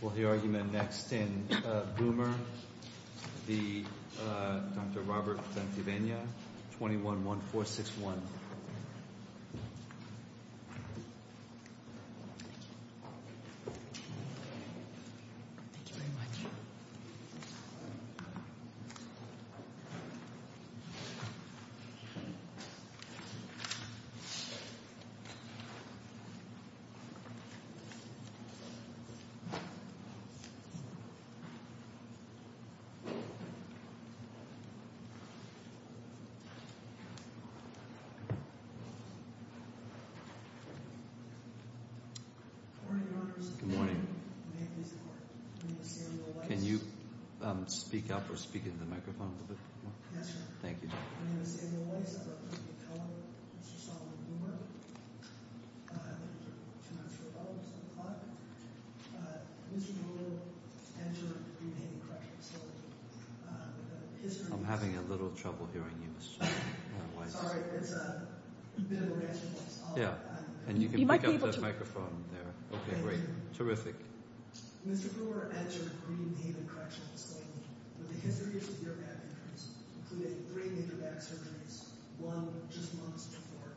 We'll hear argument next in Boomer v. Dr. Robert Bentivegna, 21-1461. Good morning. Can you speak up or speak into the microphone a little bit more? Yes, sir. My name is Daniel Weiss. I'm a fellow of Mr. Solomon Boomer. I've been here for two months for a couple of years. Mr. Boomer entered Green Haven Correctional School. I'm having a little trouble hearing you, Mr. Weiss. Sorry. It's a bit of a razzle-dazzle. Yeah, and you can pick up the microphone there. Okay, great. Terrific. Mr. Boomer entered Green Haven Correctional School, where the history of severe back injuries included three major back surgeries, one just months before.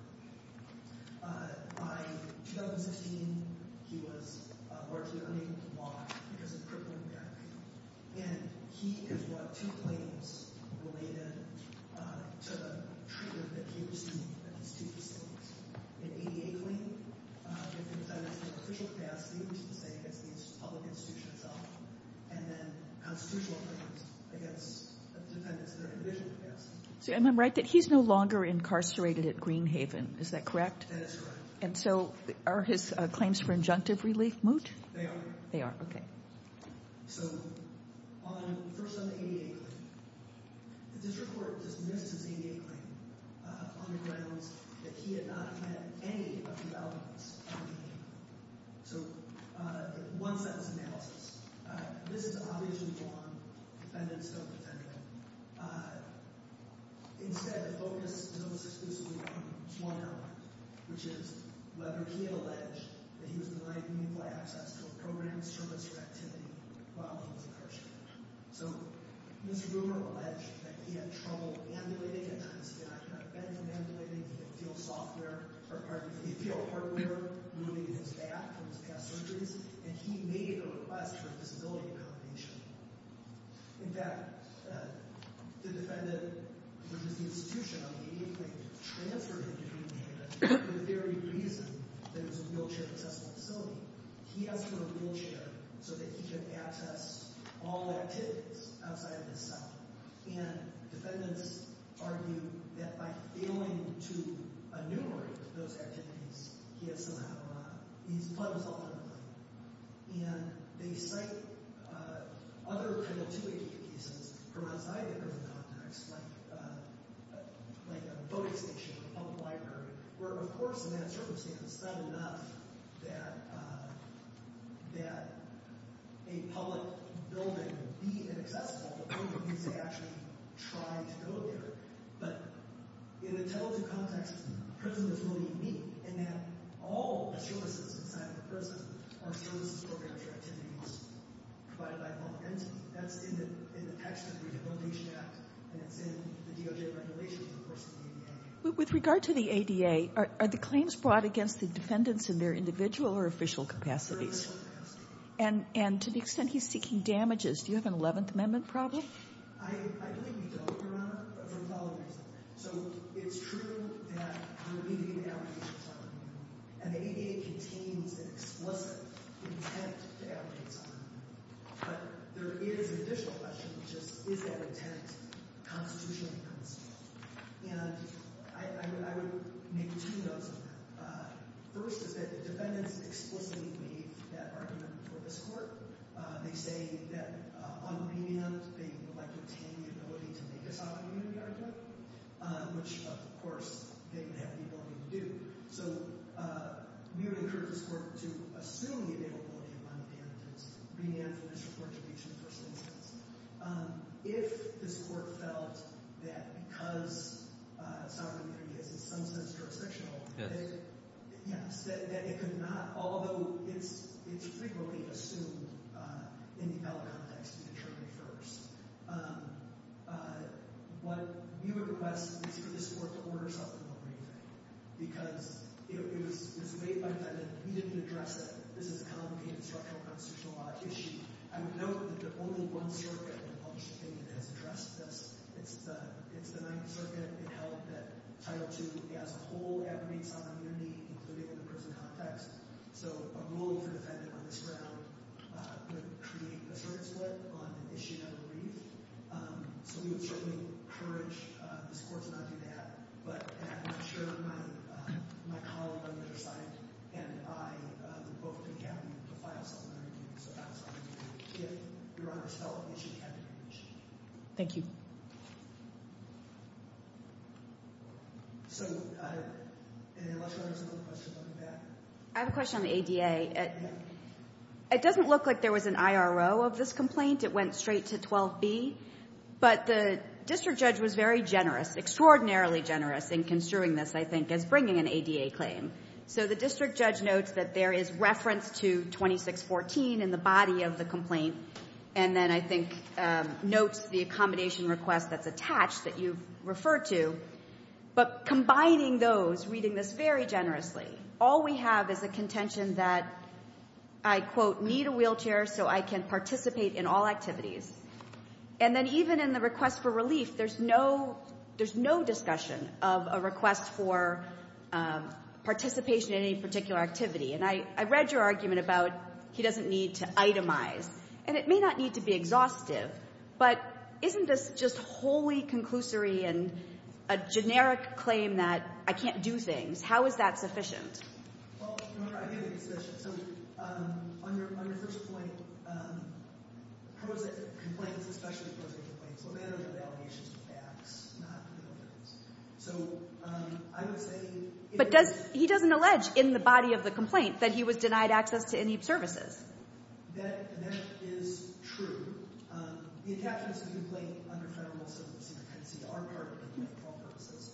By 2016, he was largely unable to walk because of crippling back pain. And he has brought two claims related to the treatment that he received at these two facilities. An ADA claim, if he was done in an official capacity, which is the same as the public institution itself, and then constitutional evidence against defendants that are in division capacity. And I'm right that he's no longer incarcerated at Green Haven, is that correct? That is correct. And so are his claims for injunctive relief moot? They are. They are, okay. So first on the ADA claim, the district court dismissed his ADA claim on the grounds that he had not had any of the elements of the ADA claim. So one sentence analysis. This is obviously wrong. Defendants don't defend him. Instead, the focus is exclusively on one element, which is whether he alleged that he was denied mutual access to programs, services, or activity while he was incarcerated. So this rumor alleged that he had trouble ambulating, and I cannot defend him ambulating. He could feel hardware moving in his back from his past surgeries, and he made a request for a disability accommodation. In fact, the defendant, which is the institution on the ADA claim, transferred him to Green Haven for the very reason that it was a wheelchair-accessible facility. He asked for a wheelchair so that he could access all activities outside of his cell. And defendants argue that by failing to enumerate those activities, he has somehow—he's puzzled ultimately. And they cite other kind of two ADA cases from outside the government context, like a voting station, a public library, where, of course, in that circumstance, it's not enough that a public building be inaccessible. The public needs to actually try to go there. But in the total two contexts, prison is really unique in that all services inside of the prison are services, programs, or activities provided by the law. And that's in the text of the Rehabilitation Act, and it's in the DOJ regulations, of course, in the ADA. With regard to the ADA, are the claims brought against the defendants in their individual or official capacities? And to the extent he's seeking damages, do you have an Eleventh Amendment problem? I believe we don't, Your Honor, for a valid reason. So it's true that we need to get allegations on him. And the ADA contains an explicit intent to allegations on him. But there is an additional question, which is, is that intent constitutionally constitutional? And I would make two notes on that. First is that the defendants explicitly waive that argument before this court. They say that on remand, they would like to obtain the ability to make this argument the argument, which, of course, they would have the ability to do. So we would encourage this court to assume the availability of money damages and remand for this report to be a two-person instance. If this court felt that because sovereign immunity is, in some sense, jurisdictional, that it could not, although it's frequently assumed in the appellate context to determine it first, what we would request is for this court to order something on remand. Because it was made by the defendant. We didn't address it. This is a complicated, structural constitutional law issue. I would note that there's only one circuit in the published opinion that has addressed this. It's the Ninth Circuit. It held that Title II has a whole aggregate sovereign immunity, including in the prison context. So a rule for the defendant on this ground would create a circuit split on an issue never read. So we would certainly encourage this court to not do that. But I'm sure my colleague on the other side and I would both be happy to file sovereign immunity. So I'm sorry. If Your Honor felt an issue had to be reached. Thank you. So unless Your Honor has another question, I'll be back. I have a question on the ADA. Yeah. It doesn't look like there was an IRO of this complaint. It went straight to 12b. But the district judge was very generous, extraordinarily generous in construing this, I think, as bringing an ADA claim. So the district judge notes that there is reference to 2614 in the body of the complaint. And then I think notes the accommodation request that's attached that you've referred to. But combining those, reading this very generously, all we have is a contention that I, quote, need a wheelchair so I can participate in all activities. And then even in the request for relief, there's no discussion of a request for participation in any particular activity. And I read your argument about he doesn't need to itemize. And it may not need to be exhaustive. But isn't this just wholly conclusory and a generic claim that I can't do things? How is that sufficient? Well, I have a suggestion. So on your first point, complaints, especially prosecuted complaints, well, they are validations to facts, not legal documents. So I would say if it was- But he doesn't allege in the body of the complaint that he was denied access to any services. That is true. The attachments to the complaint under federal civil secrecy are part of the complaint for all purposes.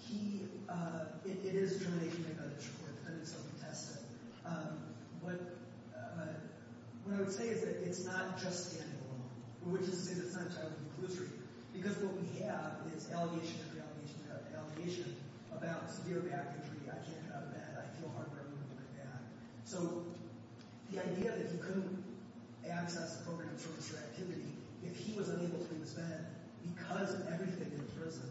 He- it is a determination made by the Supreme Court. The defendants don't contest it. But what I would say is that it's not just standing alone, which is to say that it's not entirely conclusory. Because what we have is allegation after allegation after allegation about severe back injury, I can't get out of bed, I feel hard when I'm moving my back. So the idea that he couldn't access a program of service or activity if he was unable to leave his bed because of everything in prison,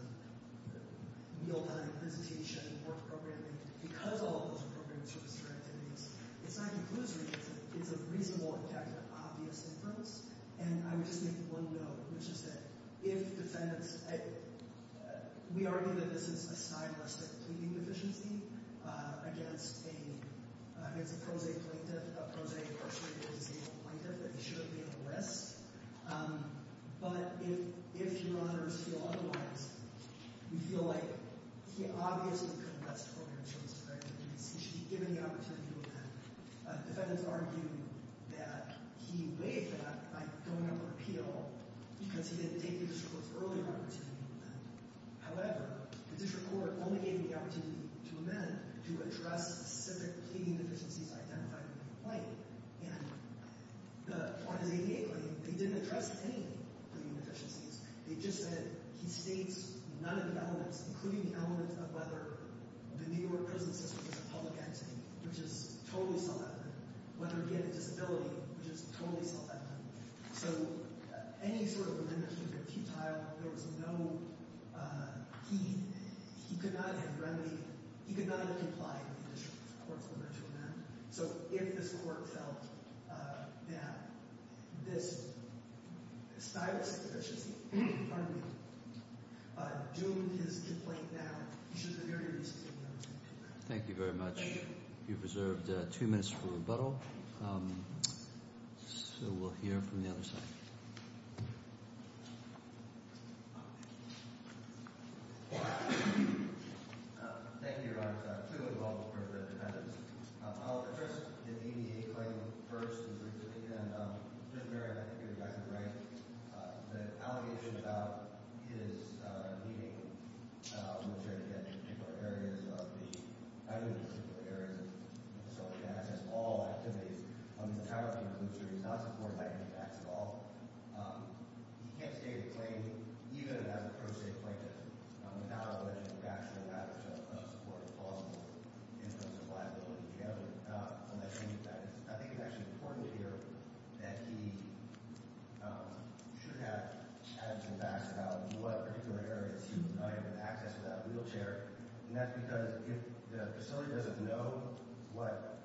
meal time, visitation, work programming, because all of those are programs of service or activities, it's not conclusory. It's a reasonable objective, obvious inference. And I would just make one note, which is that if defendants- we argue that this is a stylistic pleading deficiency against a- against a pro se plaintiff, a pro se incarcerated disabled plaintiff, that he should be under arrest. But if- if your honors feel otherwise, we feel like he obviously couldn't have access to programs of service or activities. He should be given the opportunity to amend. Defendants argue that he waived that by going up for appeal because he didn't take the district court's earlier opportunity to amend. However, the district court only gave him the opportunity to amend to address specific pleading deficiencies identified in the complaint. And the- on his APA claim, they didn't address any pleading deficiencies. They just said he states none of the elements, including the elements of whether the New York prison system is a public entity, which is totally self-evident, whether he had a disability, which is totally self-evident. So any sort of remission would be futile. There was no- he- he could not have remedy- he could not have complied with the district court's order to amend. So if this court felt that this stylus deficiency in front of me doomed his complaint down, he should be very easy to take down. Thank you very much. You've reserved two minutes for rebuttal. So we'll hear from the other side. Thank you, your honors. I'll address the APA claim first. And then, Mr. Merriam, I think you're exactly right. The allegation about his pleading, which, again, in particular areas of the- I mean, in particular areas of the facility, that has all activities under the power of the inclusion. He's not supported by any facts at all. He can't state a claim, even if it has a pro se plaintiff, without alleging facts that are a matter of supporting plausible instances of liability together. And I think that is- I think it's actually important here that he should have had some facts about what particular areas he was not able to access without a wheelchair. And that's because if the facility doesn't know what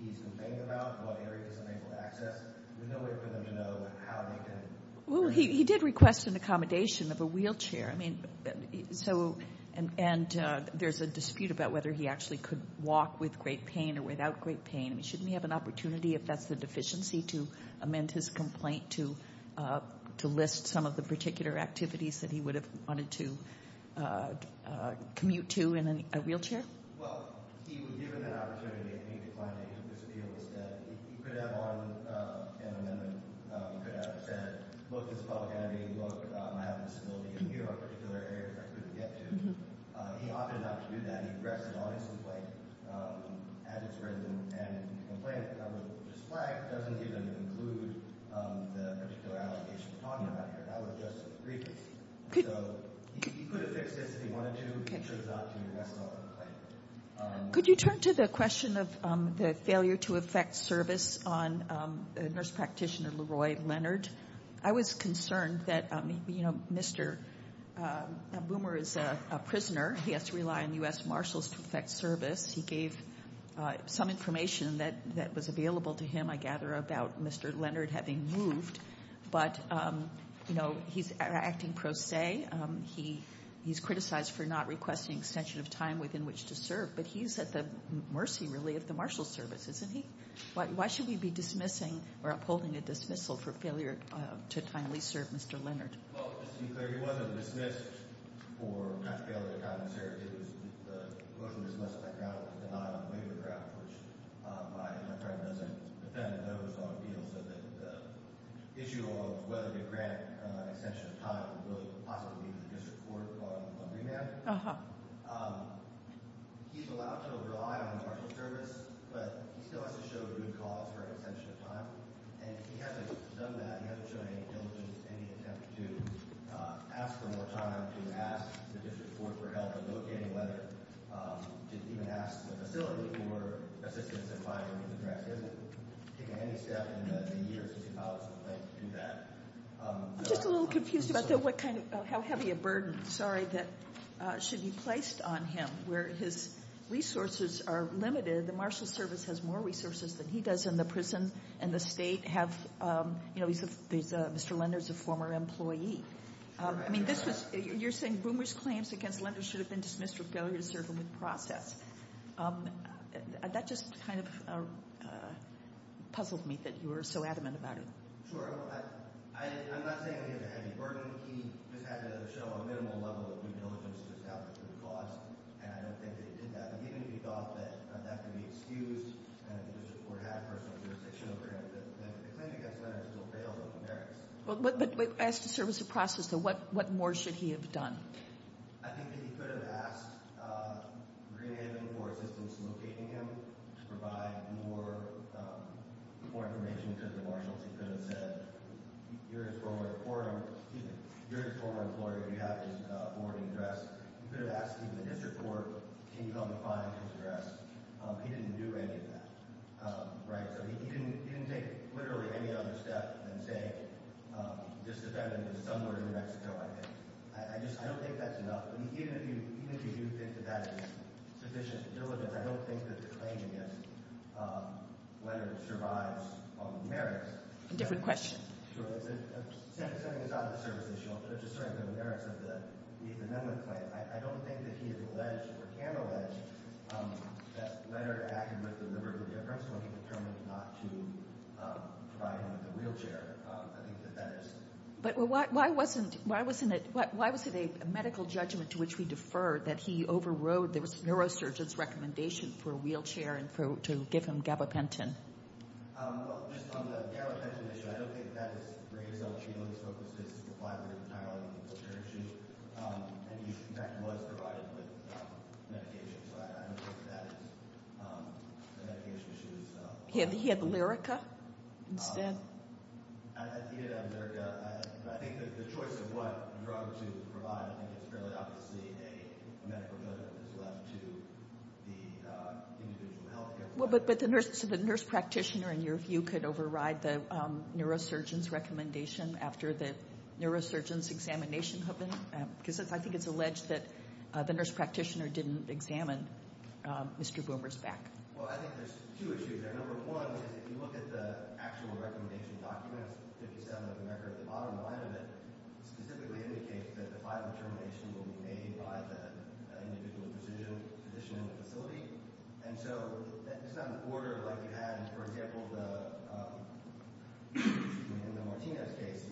he's complaining about, what areas he's unable to access, there's no way for them to know how they can- Well, he did request an accommodation of a wheelchair. I mean, so- and there's a dispute about whether he actually could walk with great pain or without great pain. I mean, shouldn't he have an opportunity, if that's the deficiency, to amend his complaint to list some of the particular activities that he would have wanted to commute to in a wheelchair? Well, he was given that opportunity. I think the claim that he could disappear was that he could have on an amendment. He could have said, look, this is a public entity. Look, I have a disability. And here are particular areas I couldn't get to. He opted not to do that. And he requested an audience complaint at his residence. And the complaint that was flagged doesn't even include the particular allocation we're talking about here. That was just a brief case. So he could have fixed this if he wanted to. He chose not to. And that's another complaint. Could you turn to the question of the failure to effect service on Nurse Practitioner Leroy Leonard? I was concerned that, you know, Mr. Boomer is a prisoner. He has to rely on U.S. Marshals to effect service. He gave some information that was available to him, I gather, about Mr. Leonard having moved. But, you know, he's acting pro se. He's criticized for not requesting an extension of time within which to serve. But he's at the mercy, really, of the Marshals Service, isn't he? Why should we be dismissing or upholding a dismissal for failure to timely serve Mr. Leonard? Well, just to be clear, he wasn't dismissed for not failing to time his service. It was mostly dismissed as a denial of labor grounds, which my friend doesn't defend, but that was on the deal so that the issue of whether to grant an extension of time would possibly lead to a disreport on remand. He's allowed to rely on the Marshals Service, but he still has to show good cause for an extension of time. And he hasn't done that. He hasn't shown any diligence in any attempt to ask for more time, to ask the District Court for help in locating Leonard, to even ask the facility for assistance in finding him address. He hasn't taken any step in the years since he filed his complaint to do that. I'm just a little confused about how heavy a burden, sorry, that should be placed on him. Where his resources are limited, the Marshals Service has more resources than he does, and the prison and the state have, you know, Mr. Leonard's a former employee. I mean, you're saying Boomer's claims against Leonard should have been dismissed for failure to serve him with process. That just kind of puzzled me that you were so adamant about it. Sure. I'm not saying he has a heavy burden. He just had to show a minimal level of due diligence to establish good cause, and I don't think that he did that. But even if he thought that that could be excused, and the District Court had personal jurisdiction over him, the claim against Leonard still fails under the merits. But as to service of process, though, what more should he have done? I think that he could have asked Greenhaven for assistance in locating him to provide more information to the Marshals. He could have said, you're his former employee. You have his forwarding address. He could have asked even the District Court, can you help me find his address? He didn't do any of that. Right? So he didn't take literally any other step than say, this defendant is somewhere in New Mexico, I think. I just don't think that's enough. Even if you do think that that is sufficient diligence, I don't think that the claim against Leonard survives on the merits. A different question. Certainly it's not a service issue. It's just certainly on the merits of the men with claim. I don't think that he has alleged or can allege that Leonard acted with deliberate indifference when he determined not to provide him with a wheelchair. I think that that is. But why wasn't it a medical judgment to which we defer that he overrode the neurosurgeon's recommendation for a wheelchair and to give him gabapentin? Well, just on the gabapentin issue, I don't think that is raised. I don't think he was focused on the fiber entirely. And he was provided with medication. So I don't think that is a medication issue. He had Lyrica instead? He did have Lyrica. I think the choice of what drug to provide, I think it's fairly obviously a medical judgment that's left to the individual health care provider. But the nurse practitioner, in your view, could override the neurosurgeon's recommendation after the neurosurgeon's examination had been done? Because I think it's alleged that the nurse practitioner didn't examine Mr. Boomer's back. Well, I think there's two issues there. Number one is if you look at the actual recommendation documents, 57 of the record, the bottom line of it specifically indicates that the final determination will be made by the individual physician in the facility. And so it's not an order like you had, for example, in the Martinez case.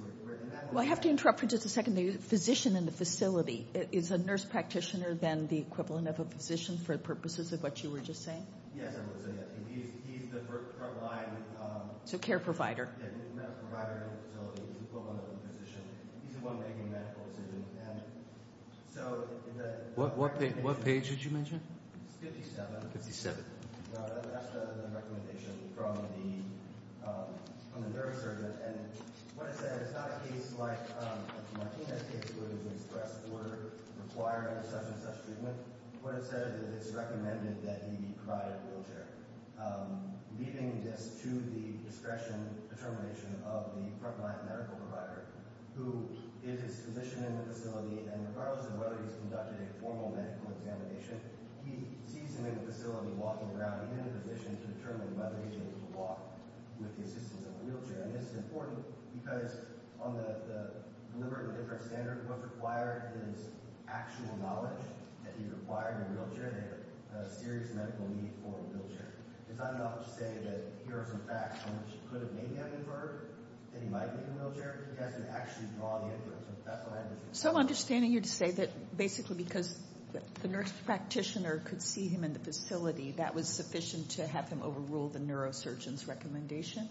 Well, I have to interrupt for just a second. The physician in the facility, is a nurse practitioner then the equivalent of a physician for purposes of what you were just saying? Yes, I would say that. He's the front line medical provider in the facility. He's the equivalent of the physician. He's the one making medical decisions. So in the- What page did you mention? It's 57. 57. That's the recommendation from the neurosurgeon. And what it says, it's not a case like the Martinez case where there's an express order requiring such and such treatment. What it says is that it's recommended that he be provided a wheelchair, leading just to the discretion determination of the front line medical provider, who is his physician in the facility, and regardless of whether he's conducted a formal medical examination, he sees him in the facility walking around in a position to determine whether he's able to walk with the assistance of a wheelchair. And this is important because on the deliberate and different standard, what's required is actual knowledge that he's required in a wheelchair and a serious medical need for a wheelchair. It's not enough to say that here are some facts on which you could have made him inferred that he might be in a wheelchair. He has to actually draw the inference. That's what I understood. So understanding you to say that basically because the nurse practitioner could see him in the facility, that was sufficient to have him overrule the neurosurgeon's recommendation?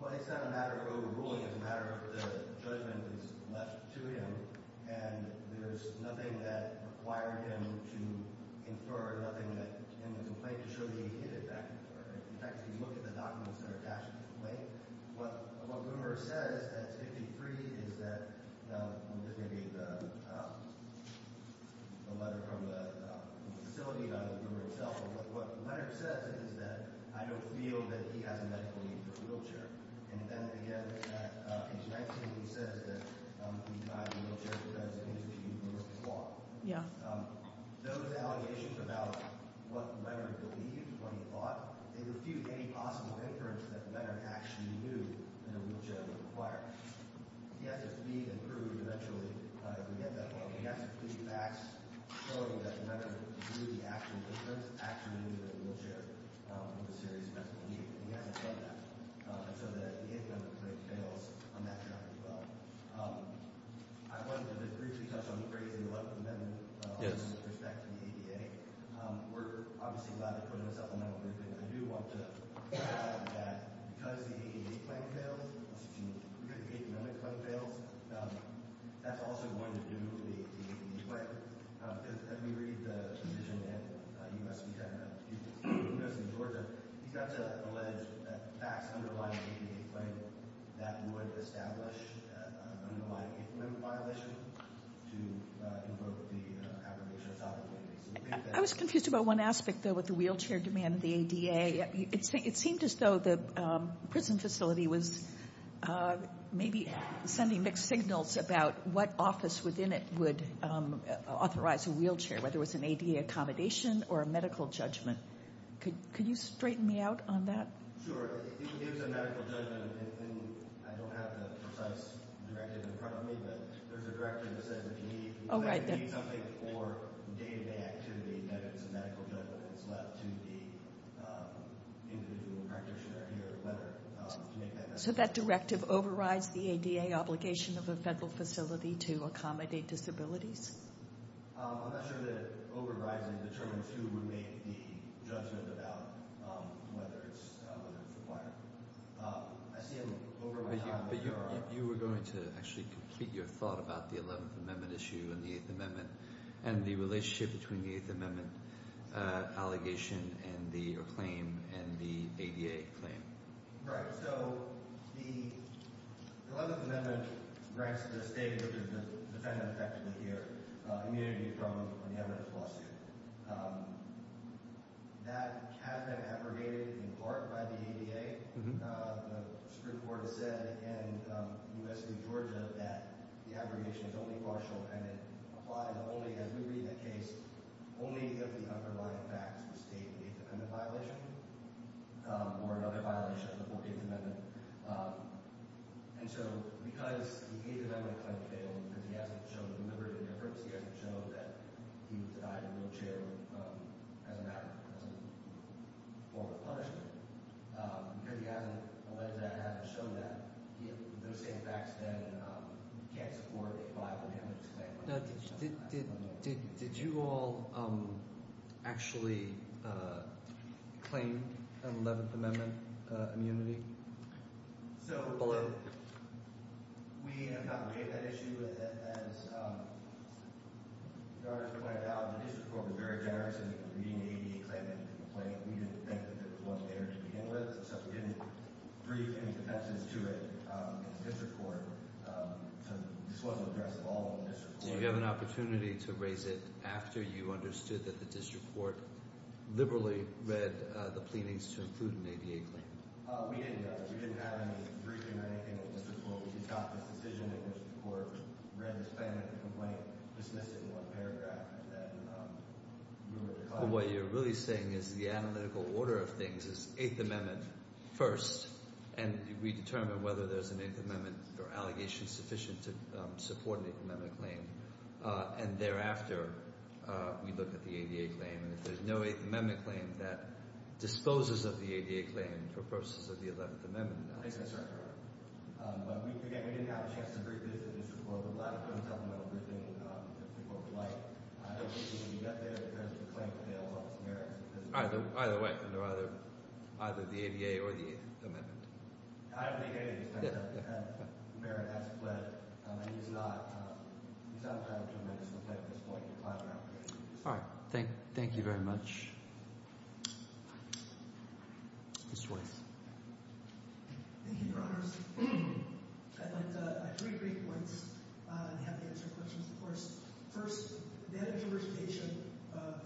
Well, it's not a matter of overruling. It's a matter of the judgment that's left to him, and there's nothing that required him to infer, nothing that him to complain to, should he hit it back and forth. In fact, if you look at the documents that are attached to the complaint, what the rumor says at 53 is that, now this may be a letter from the facility, not the rumor itself, but what the letter says is that I don't feel that he has a medical need for a wheelchair. And then, again, at page 19, he says that he's not in a wheelchair because it's an interviewed nurse's fault. Yeah. Those allegations about what the letter believed, what he thought, they refute any possible inference that the letter actually knew that a wheelchair was required. He has to read and prove eventually to get that one. And he has to prove facts showing that the letter knew the actual difference, actually knew that a wheelchair was a serious medical need. And he has to prove that. And so the eighth amendment claim fails on that ground as well. I wanted to briefly touch on the phrase in the letter from them. Yes. In respect to the ADA, we're obviously glad they put it in a supplemental agreement, but I do want to point out that because the ADA claim fails, excuse me, because the eighth amendment claim fails, that's also going to do the ADA claim. As we read the provision in U.S. Department of Justice in Georgia, he's got to allege that facts underlying the ADA claim that would establish underlying eighth amendment violation to invoke the affirmation of topical evidence. I was confused about one aspect, though, with the wheelchair demand of the ADA. It seemed as though the prison facility was maybe sending mixed signals about what office within it would authorize a wheelchair, whether it was an ADA accommodation or a medical judgment. Could you straighten me out on that? Sure. If it was a medical judgment, I don't have the precise directive in front of me, but there's a directive that says if you need something for day-to-day activity, that it's a medical judgment that's left to the individual practitioner here to make that decision. So that directive overrides the ADA obligation of a federal facility to accommodate disabilities? I'm not sure that overriding determines who would make the judgment about whether it's required. I see an overriding. You were going to actually complete your thought about the eleventh amendment issue and the eighth amendment and the relationship between the eighth amendment allegation and your claim and the ADA claim. Right. So the eleventh amendment grants the state, which is the defendant effectively here, immunity from an evidence lawsuit. That has been abrogated in part by the ADA. The Supreme Court has said, and U.S. v. Georgia, that the abrogation is only partial and it applies only, as we read in the case, only if the underlying facts state an eighth amendment violation or another violation of the fourteenth amendment. And so because the eighth amendment claim failed, because he hasn't shown liberty of inference, he hasn't shown that he was denied a wheelchair as a form of punishment, because he hasn't alleged that and hasn't shown that, those same facts then can't support a five-amendment claim. Now, did you all actually claim an eleventh amendment immunity? So, we have not read that issue. As the artist pointed out, the district court was very generous in reading the ADA claim and the complaint. We didn't think that it was one there to begin with, so we didn't brief any defenses to it. The district court, this wasn't addressed at all in the district court. Did you have an opportunity to raise it after you understood that the district court liberally read the pleadings to include an ADA claim? We didn't. We didn't have any briefing or anything at the district court. We just got this decision in which the court read this plan and the complaint, dismissed it in one paragraph, and then we were called. What you're really saying is the analytical order of things is eighth amendment first, and we determine whether there's an eighth amendment or allegation sufficient to support an eighth amendment claim, and thereafter we look at the ADA claim. If there's no eighth amendment claim, that disposes of the ADA claim for purposes of the eleventh amendment. We didn't have a chance to brief the district court. We didn't have a supplemental briefing that the court would like. I don't think we got there because the claim fails on its merits. Either way, either the ADA or the eighth amendment. Either the ADA, depends on what merit has pledged. It's not a matter of tremendous effect at this point. All right. Thank you very much. Mr. Weiss. Thank you, Your Honors. I'd like to make three points and have the answer to the questions in the course. First, the edit of the origination of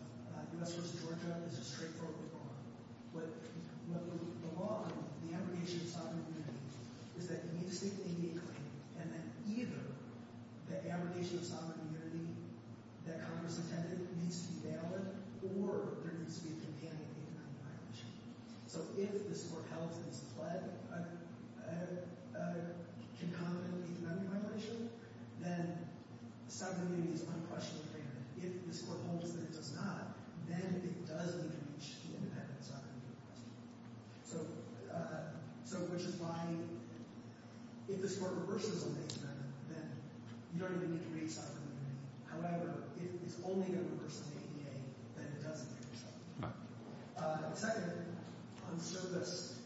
U.S. v. Georgia is a straightforward reform. But the law of the abrogation of sovereign immunity is that you need to state the ADA claim, and that either the abrogation of sovereign immunity that Congress intended needs to be valid, or there needs to be a companion eighth amendment violation. So if this court held that it's pledged a concomitant eighth amendment violation, then sovereign immunity is unquestionably valid. If this court holds that it does not, then it does need to reach the independent sovereign immunity question. So, which is why if this court reverses an eighth amendment, then you don't even need to reach sovereign immunity. However, if it's only going to reverse the ADA, then it doesn't need to reach that. Second, on SOGAS,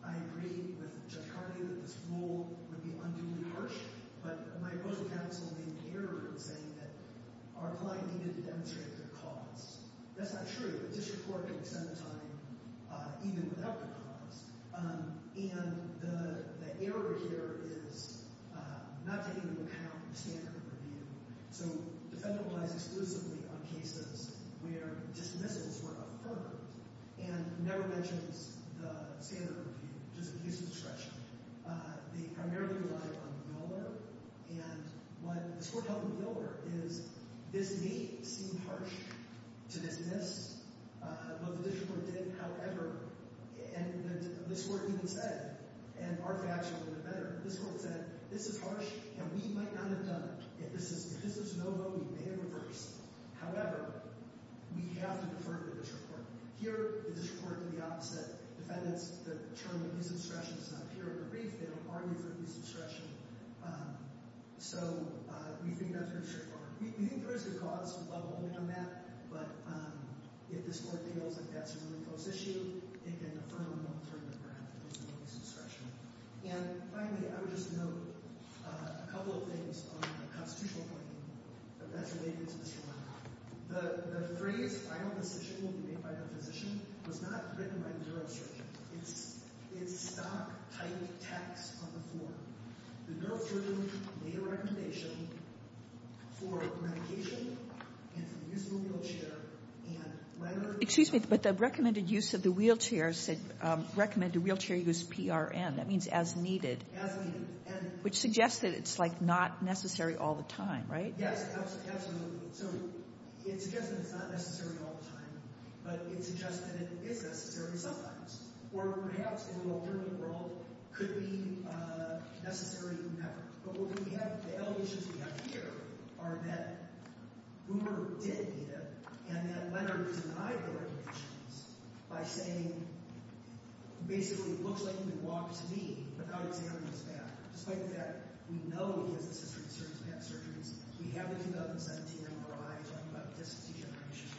I agree with Judge Carney that this rule would be unduly harsh, but my opposing counsel made an error in saying that our client needed to demonstrate their cause. That's not true. A district court can extend the time even without the cause. And the error here is not taking into account the standard of review. So the federal lies exclusively on cases where dismissals were affirmed, and never mentions the standard of review, just abuse of discretion. They primarily rely on the biller. And what this court held in the biller is this may seem harsh to dismiss, but the district court did. However, and this court even said, and our reaction would have been better. This court said, this is harsh, and we might not have done it. If this is no-no, we may have reversed. However, we have to defer to the district court. Here, the district court did the opposite. Defendants, the term abuse of discretion does not appear in the brief. They don't argue for abuse of discretion. So we think that's very straightforward. We think there is good cause. We'd love a holding on that. But if this court feels that that's a really close issue, it can affirm an alternative, perhaps, to abuse of discretion. And finally, I would just note a couple of things on the constitutional point. That's related to this one. The phrase, final decision will be made by the physician, was not written by the neurosurgeon. It's stock-type text on the form. The neurosurgeon made a recommendation for medication and for the use of a wheelchair. Excuse me, but the recommended use of the wheelchair said recommended wheelchair use PRN. That means as needed. As needed. Which suggests that it's, like, not necessary all the time, right? Yes, absolutely. So it suggests that it's not necessary all the time. But it suggests that it is necessary sometimes. Or, perhaps, in an alternative world, could be necessary whenever. But what do we have? The L issues we have here are that Boomer did need it, and that Leonard denied the recommendations by saying, basically, it looks like you can walk to me without examining his back. Despite the fact we know he has a history of surgery, he's had surgeries. We have a 2017 MRI talking about disc degeneration.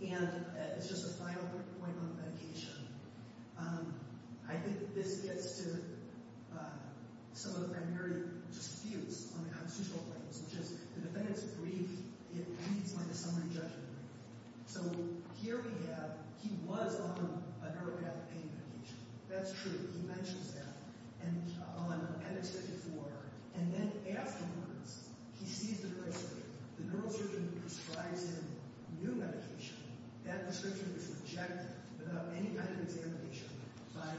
And it's just a final point on medication. I think this gets to some of the primary disputes on the constitutional grounds, which is the defendant's grief, it reads like a summary judgment. So here we have, he was on a neuropathic pain medication. That's true. He mentions that. And then afterwards, he sees the prescription. The neurosurgeon prescribes him new medication. That prescription is rejected without any kind of examination by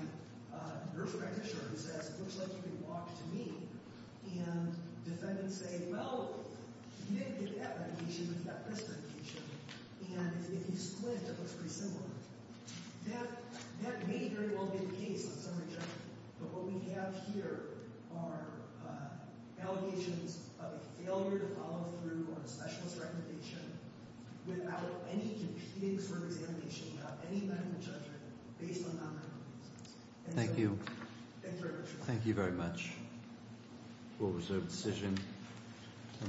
a nurse practitioner who says, it looks like you can walk to me. And defendants say, well, he didn't get that medication. He got this medication. And if you squint, it looks pretty similar. That may very well be the case on summary judgment. But what we have here are allegations of a failure to follow through on a specialist recommendation without any competing sort of examination, without any medical judgment, based on non-medical reasons. Thank you. Thank you very much. Thank you very much. Full reserve decision.